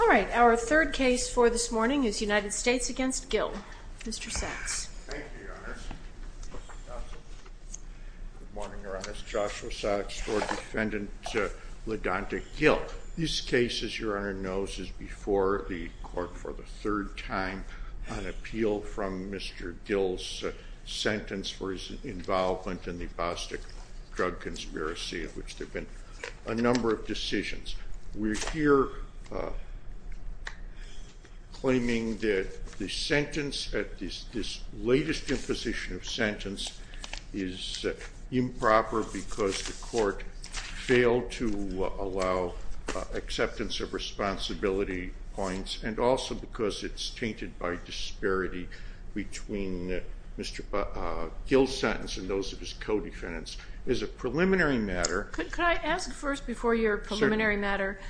All right, our third case for this morning is United States v. Gill. Mr. Sachs. Thank you, Your Honor. Good morning, Your Honor. It's Joshua Sachs for Defendant Ladonta Gill. This case, as Your Honor knows, is before the Court for the third time on appeal from Mr. Gill's sentence for his involvement in the Bostik drug conspiracy, of which there have been a number of decisions. We're here claiming that the sentence at this latest imposition of sentence is improper because the Court failed to allow acceptance of responsibility points and also because it's tainted by disparity between Mr. Gill's sentence and those of his co-defendants. It's a preliminary matter. Could I ask first before your preliminary matter,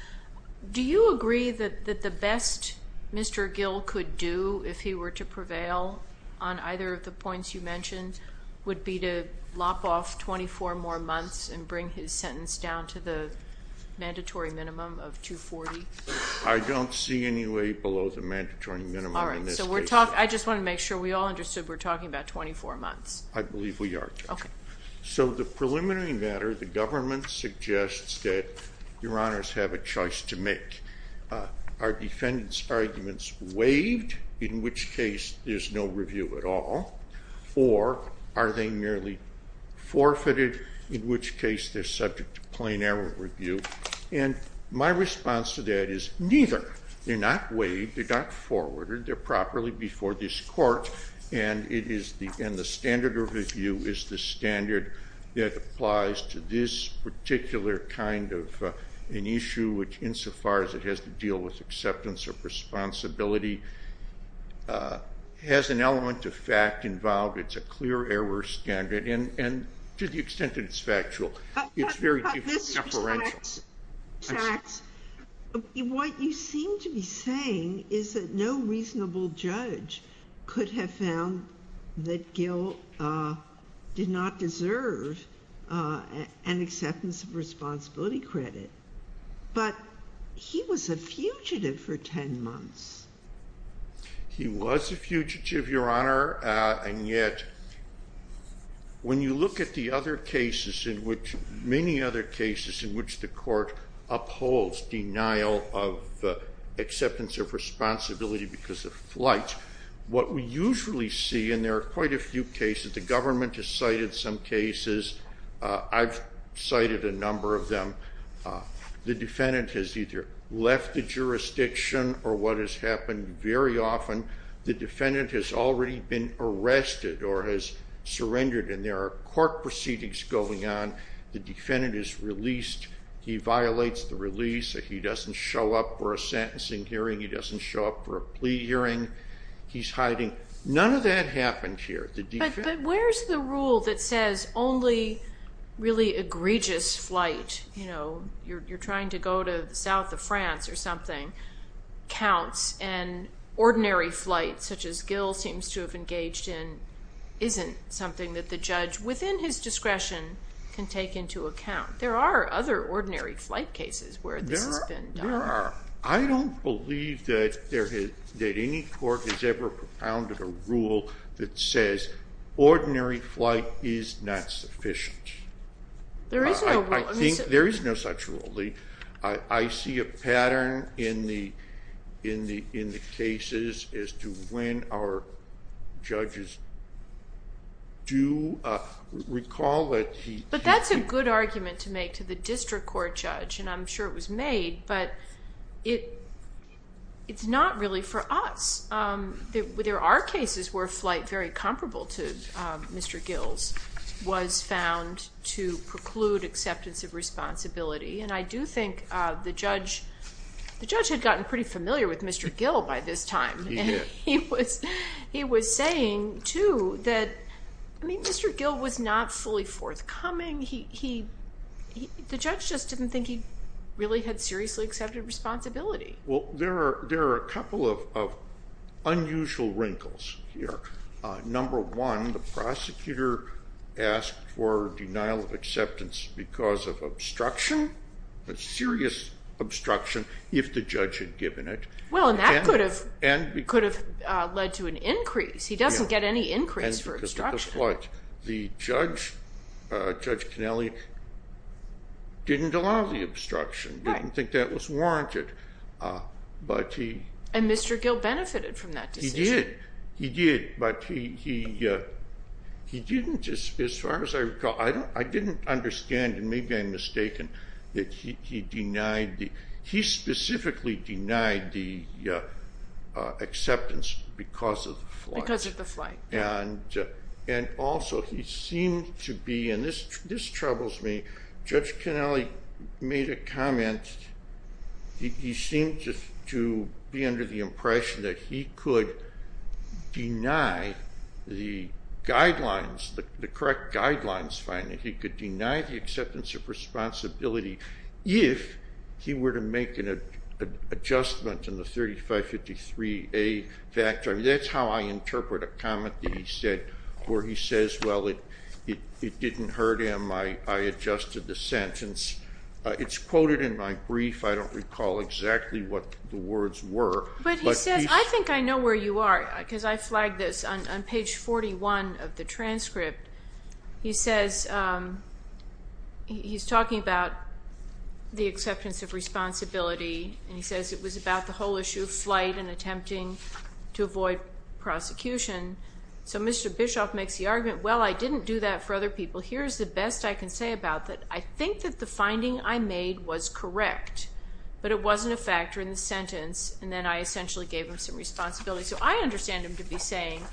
do you agree that the best Mr. Gill could do if he were to prevail on either of the points you mentioned would be to lop off 24 more months and bring his sentence down to the mandatory minimum of 240? I don't see any way below the mandatory minimum in this case. All right, so we're talking – I just want to make sure we all understood we're talking about 24 months. I believe we are. Okay. So the preliminary matter, the government suggests that Your Honors have a choice to make. Are defendants' arguments waived, in which case there's no review at all? Or are they merely forfeited, in which case they're subject to plain error review? And my response to that is neither. They're not waived. They're not forwarded. They're properly before this court, and the standard of review is the standard that applies to this particular kind of an issue, which insofar as it has to deal with acceptance of responsibility, has an element of fact involved. It's a clear error standard, and to the extent that it's factual, it's very different from deferential. What you seem to be saying is that no reasonable judge could have found that Gil did not deserve an acceptance of responsibility credit, but he was a fugitive for 10 months. He was a fugitive, Your Honor, and yet when you look at the many other cases in which the court upholds denial of acceptance of responsibility because of flight, what we usually see, and there are quite a few cases, the government has cited some cases. I've cited a number of them. The defendant has either left the jurisdiction, or what has happened very often, the defendant has already been arrested or has surrendered, and there are court proceedings going on. The defendant is released. He violates the release. He doesn't show up for a sentencing hearing. He doesn't show up for a plea hearing. He's hiding. None of that happened here. But where's the rule that says only really egregious flight, you know, you're trying to go to the south of France or something, counts, and ordinary flight, such as Gil seems to have engaged in, isn't something that the judge, within his discretion, can take into account? There are other ordinary flight cases where this has been done. There are. I don't believe that any court has ever propounded a rule that says ordinary flight is not sufficient. There is no such rule. There is no such rule. I see a pattern in the cases as to when our judges do recall that he… But that's a good argument to make to the district court judge, and I'm sure it was made, but it's not really for us. There are cases where flight very comparable to Mr. Gil's was found to preclude acceptance of responsibility, and I do think the judge had gotten pretty familiar with Mr. Gil by this time. He was saying, too, that Mr. Gil was not fully forthcoming. The judge just didn't think he really had seriously accepted responsibility. Well, there are a couple of unusual wrinkles here. Number one, the prosecutor asked for denial of acceptance because of obstruction, a serious obstruction, if the judge had given it. Well, and that could have led to an increase. He doesn't get any increase for obstruction. The judge, Judge Connelly, didn't allow the obstruction, didn't think that was warranted, but he… And Mr. Gil benefited from that decision. He did, but he didn't, as far as I recall. I didn't understand, and maybe I'm mistaken, that he specifically denied the acceptance because of the flight. Because of the flight. And also, he seemed to be, and this troubles me, Judge Connelly made a comment. He seemed to be under the impression that he could deny the guidelines, the correct guidelines, finally. He could deny the acceptance of responsibility if he were to make an adjustment in the 3553A factor. That's how I interpret a comment that he said, where he says, well, it didn't hurt him, I adjusted the sentence. It's quoted in my brief. I don't recall exactly what the words were. But he says, I think I know where you are, because I flagged this on page 41 of the transcript. He says, he's talking about the acceptance of responsibility. And he says it was about the whole issue of flight and attempting to avoid prosecution. So Mr. Bischoff makes the argument, well, I didn't do that for other people. Here's the best I can say about that. I think that the finding I made was correct, but it wasn't a factor in the sentence. And then I essentially gave him some responsibility. So I understand him to be saying,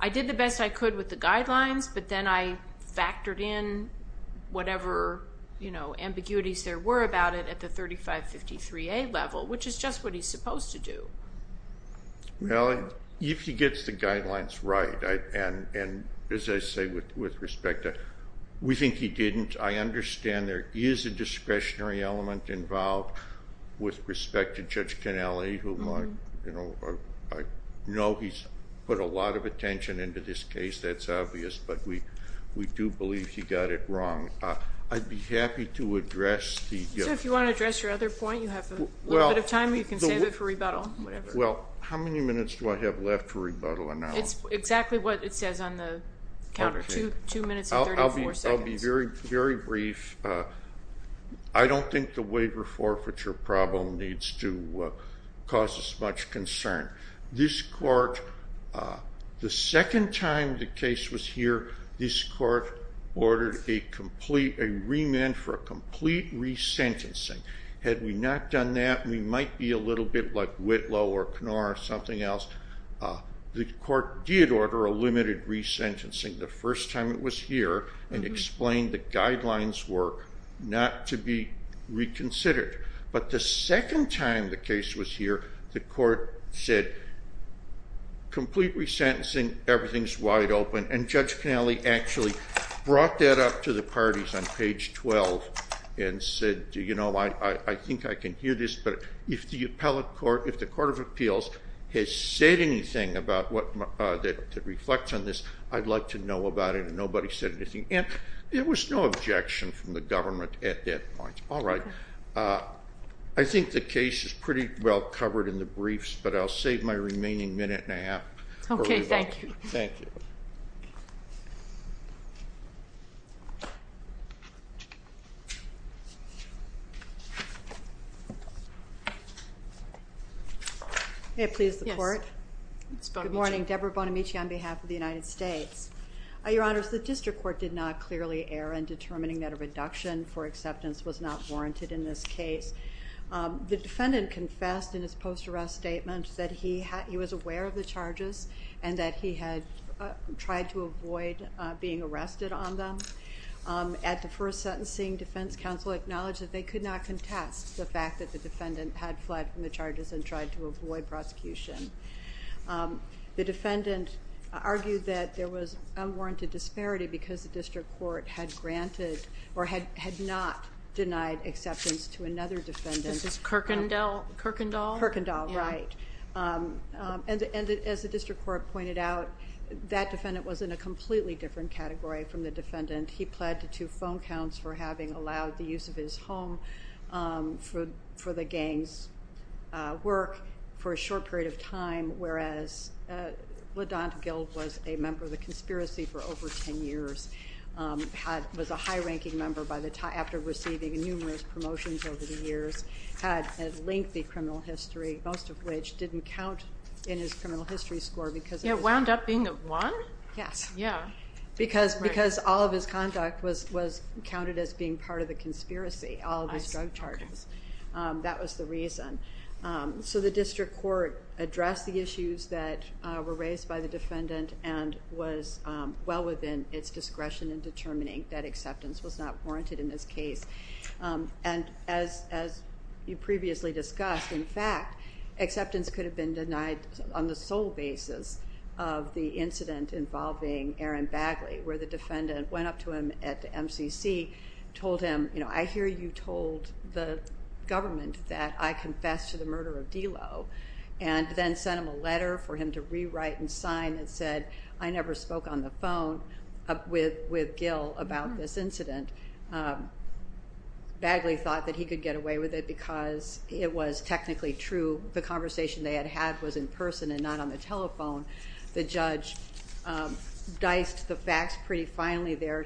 I did the best I could with the guidelines, but then I factored in whatever, you know, ambiguities there were about it at the 3553A level, which is just what he's supposed to do. Well, if he gets the guidelines right, and as I say, with respect to, we think he didn't. I understand there is a discretionary element involved with respect to Judge Cannelli, who I know he's put a lot of attention into this case, that's obvious. But we do believe he got it wrong. I'd be happy to address the... Mr. Bischoff, if you want to address your other point, you have a little bit of time. You can save it for rebuttal, whatever. Well, how many minutes do I have left for rebuttal? It's exactly what it says on the counter, two minutes and 34 seconds. I'll be very brief. I don't think the waiver forfeiture problem needs to cause us much concern. This court, the second time the case was here, this court ordered a remand for a complete resentencing. Had we not done that, we might be a little bit like Whitlow or Knorr or something else. The court did order a limited resentencing the first time it was here and explained the guidelines work not to be reconsidered. But the second time the case was here, the court said complete resentencing, everything's wide open. And Judge Connelly actually brought that up to the parties on page 12 and said, you know, I think I can hear this, but if the Court of Appeals has said anything that reflects on this, I'd like to know about it, and nobody said anything. And there was no objection from the government at that point. All right. I think the case is pretty well covered in the briefs, but I'll save my remaining minute and a half for rebuttal. Okay, thank you. Thank you. May it please the Court? Yes. Good morning. Deborah Bonamici on behalf of the United States. Your Honors, the district court did not clearly err in determining that a reduction for acceptance was not warranted in this case. and that he had tried to avoid being arrested on them. At the first sentencing, defense counsel acknowledged that they could not contest the fact that the defendant had fled from the charges and tried to avoid prosecution. The defendant argued that there was unwarranted disparity because the district court had granted or had not denied acceptance to another defendant. This is Kirkendall? Kirkendall, right. And as the district court pointed out, that defendant was in a completely different category from the defendant. He pled to two phone counts for having allowed the use of his home for the gang's work for a short period of time, whereas LaDont Gill was a member of the conspiracy for over 10 years, was a high-ranking member after receiving numerous promotions over the years, had a lengthy criminal history, most of which didn't count in his criminal history score. Yeah, wound up being a one? Yes. Yeah. Because all of his conduct was counted as being part of the conspiracy, all of his drug charges. That was the reason. So the district court addressed the issues that were raised by the defendant and was well within its discretion in determining that acceptance was not warranted in this case. And as you previously discussed, in fact acceptance could have been denied on the sole basis of the incident involving Aaron Bagley, where the defendant went up to him at MCC, told him, you know, I hear you told the government that I confessed to the murder of D'Lo and then sent him a letter for him to rewrite and sign Bagley thought that he could get away with it because it was technically true. The conversation they had had was in person and not on the telephone. The judge diced the facts pretty finely there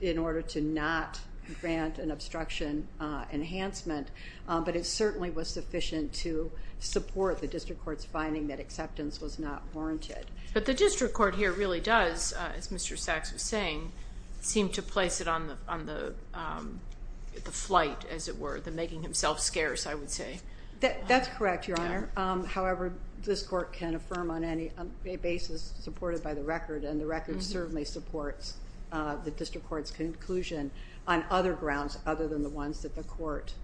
in order to not grant an obstruction enhancement, but it certainly was sufficient to support the district court's finding that acceptance was not warranted. But the district court here really does, as Mr. Sachs was saying, seem to place it on the flight, as it were, the making himself scarce, I would say. That's correct, Your Honor. However, this court can affirm on any basis supported by the record, and the record certainly supports the district court's conclusion on other grounds other than the ones that the court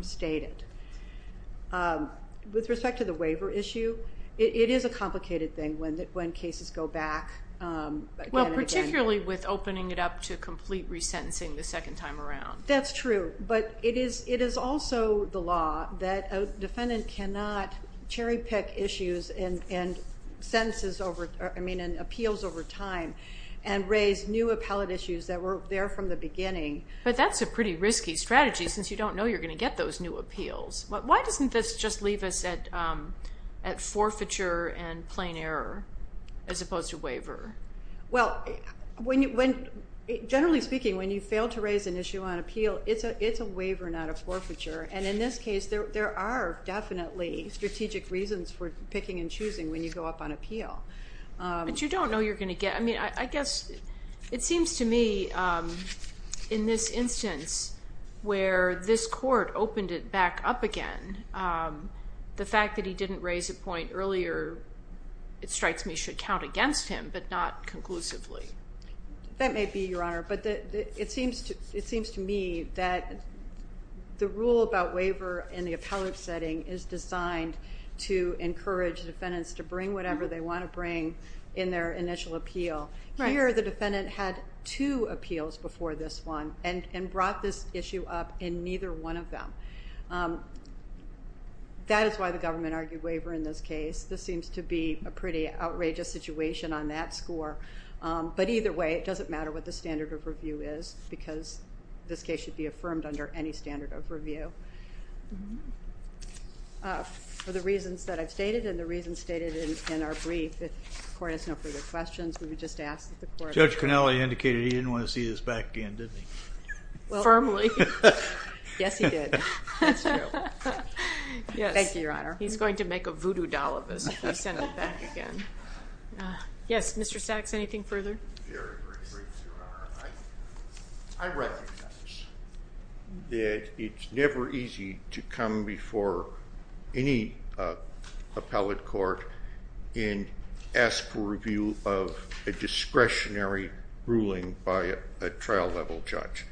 stated. With respect to the waiver issue, it is a complicated thing when cases go back again and again. Particularly with opening it up to complete resentencing the second time around. That's true. But it is also the law that a defendant cannot cherry-pick issues and appeals over time and raise new appellate issues that were there from the beginning. But that's a pretty risky strategy since you don't know you're going to get those new appeals. Why doesn't this just leave us at forfeiture and plain error as opposed to waiver? Well, generally speaking, when you fail to raise an issue on appeal, it's a waiver, not a forfeiture. And in this case, there are definitely strategic reasons for picking and choosing when you go up on appeal. But you don't know you're going to get them. I mean, I guess it seems to me in this instance where this court opened it back up again, the fact that he didn't raise a point earlier, it strikes me, that we should count against him but not conclusively. That may be, Your Honor, but it seems to me that the rule about waiver in the appellate setting is designed to encourage defendants to bring whatever they want to bring in their initial appeal. Here the defendant had two appeals before this one and brought this issue up in neither one of them. That is why the government argued waiver in this case. This seems to be a pretty outrageous situation on that score. But either way, it doesn't matter what the standard of review is because this case should be affirmed under any standard of review. For the reasons that I've stated and the reasons stated in our brief, if the Court has no further questions, we would just ask that the Court. Judge Cannelli indicated he didn't want to see this back again, didn't he? Firmly. Yes, he did. That's true. Thank you, Your Honor. He's going to make a voodoo doll of us if we send it back again. Yes, Mr. Sachs, anything further? Very briefly, Your Honor. I recognize that it's never easy to come before any appellate court and ask for review of a discretionary ruling by a trial-level judge.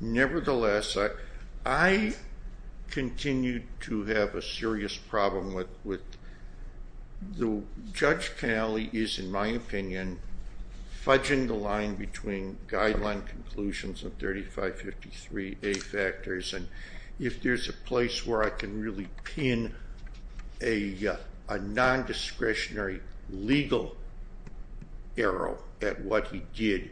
Nevertheless, I continue to have a serious problem with the Judge Cannelli is, in my opinion, fudging the line between guideline conclusions of 3553A factors. If there's a place where I can really pin a nondiscretionary legal arrow at what he did,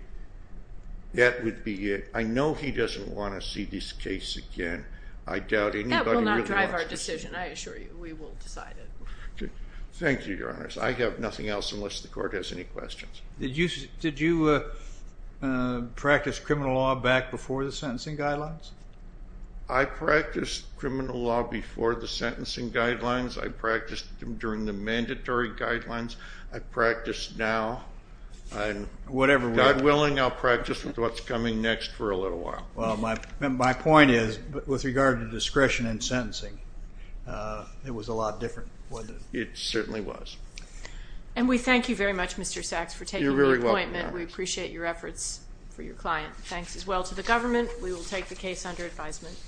that would be it. I know he doesn't want to see this case again. That will not drive our decision, I assure you. We will decide it. Thank you, Your Honor. I have nothing else unless the Court has any questions. Did you practice criminal law back before the sentencing guidelines? I practiced criminal law before the sentencing guidelines. I practiced them during the mandatory guidelines. I practice now. God willing, I'll practice with what's coming next for a little while. My point is, with regard to discretion in sentencing, it was a lot different. It certainly was. And we thank you very much, Mr. Sachs, for taking the appointment. You're very welcome, Your Honor. We appreciate your efforts for your client. Thanks as well to the government. We will take the case under advisement.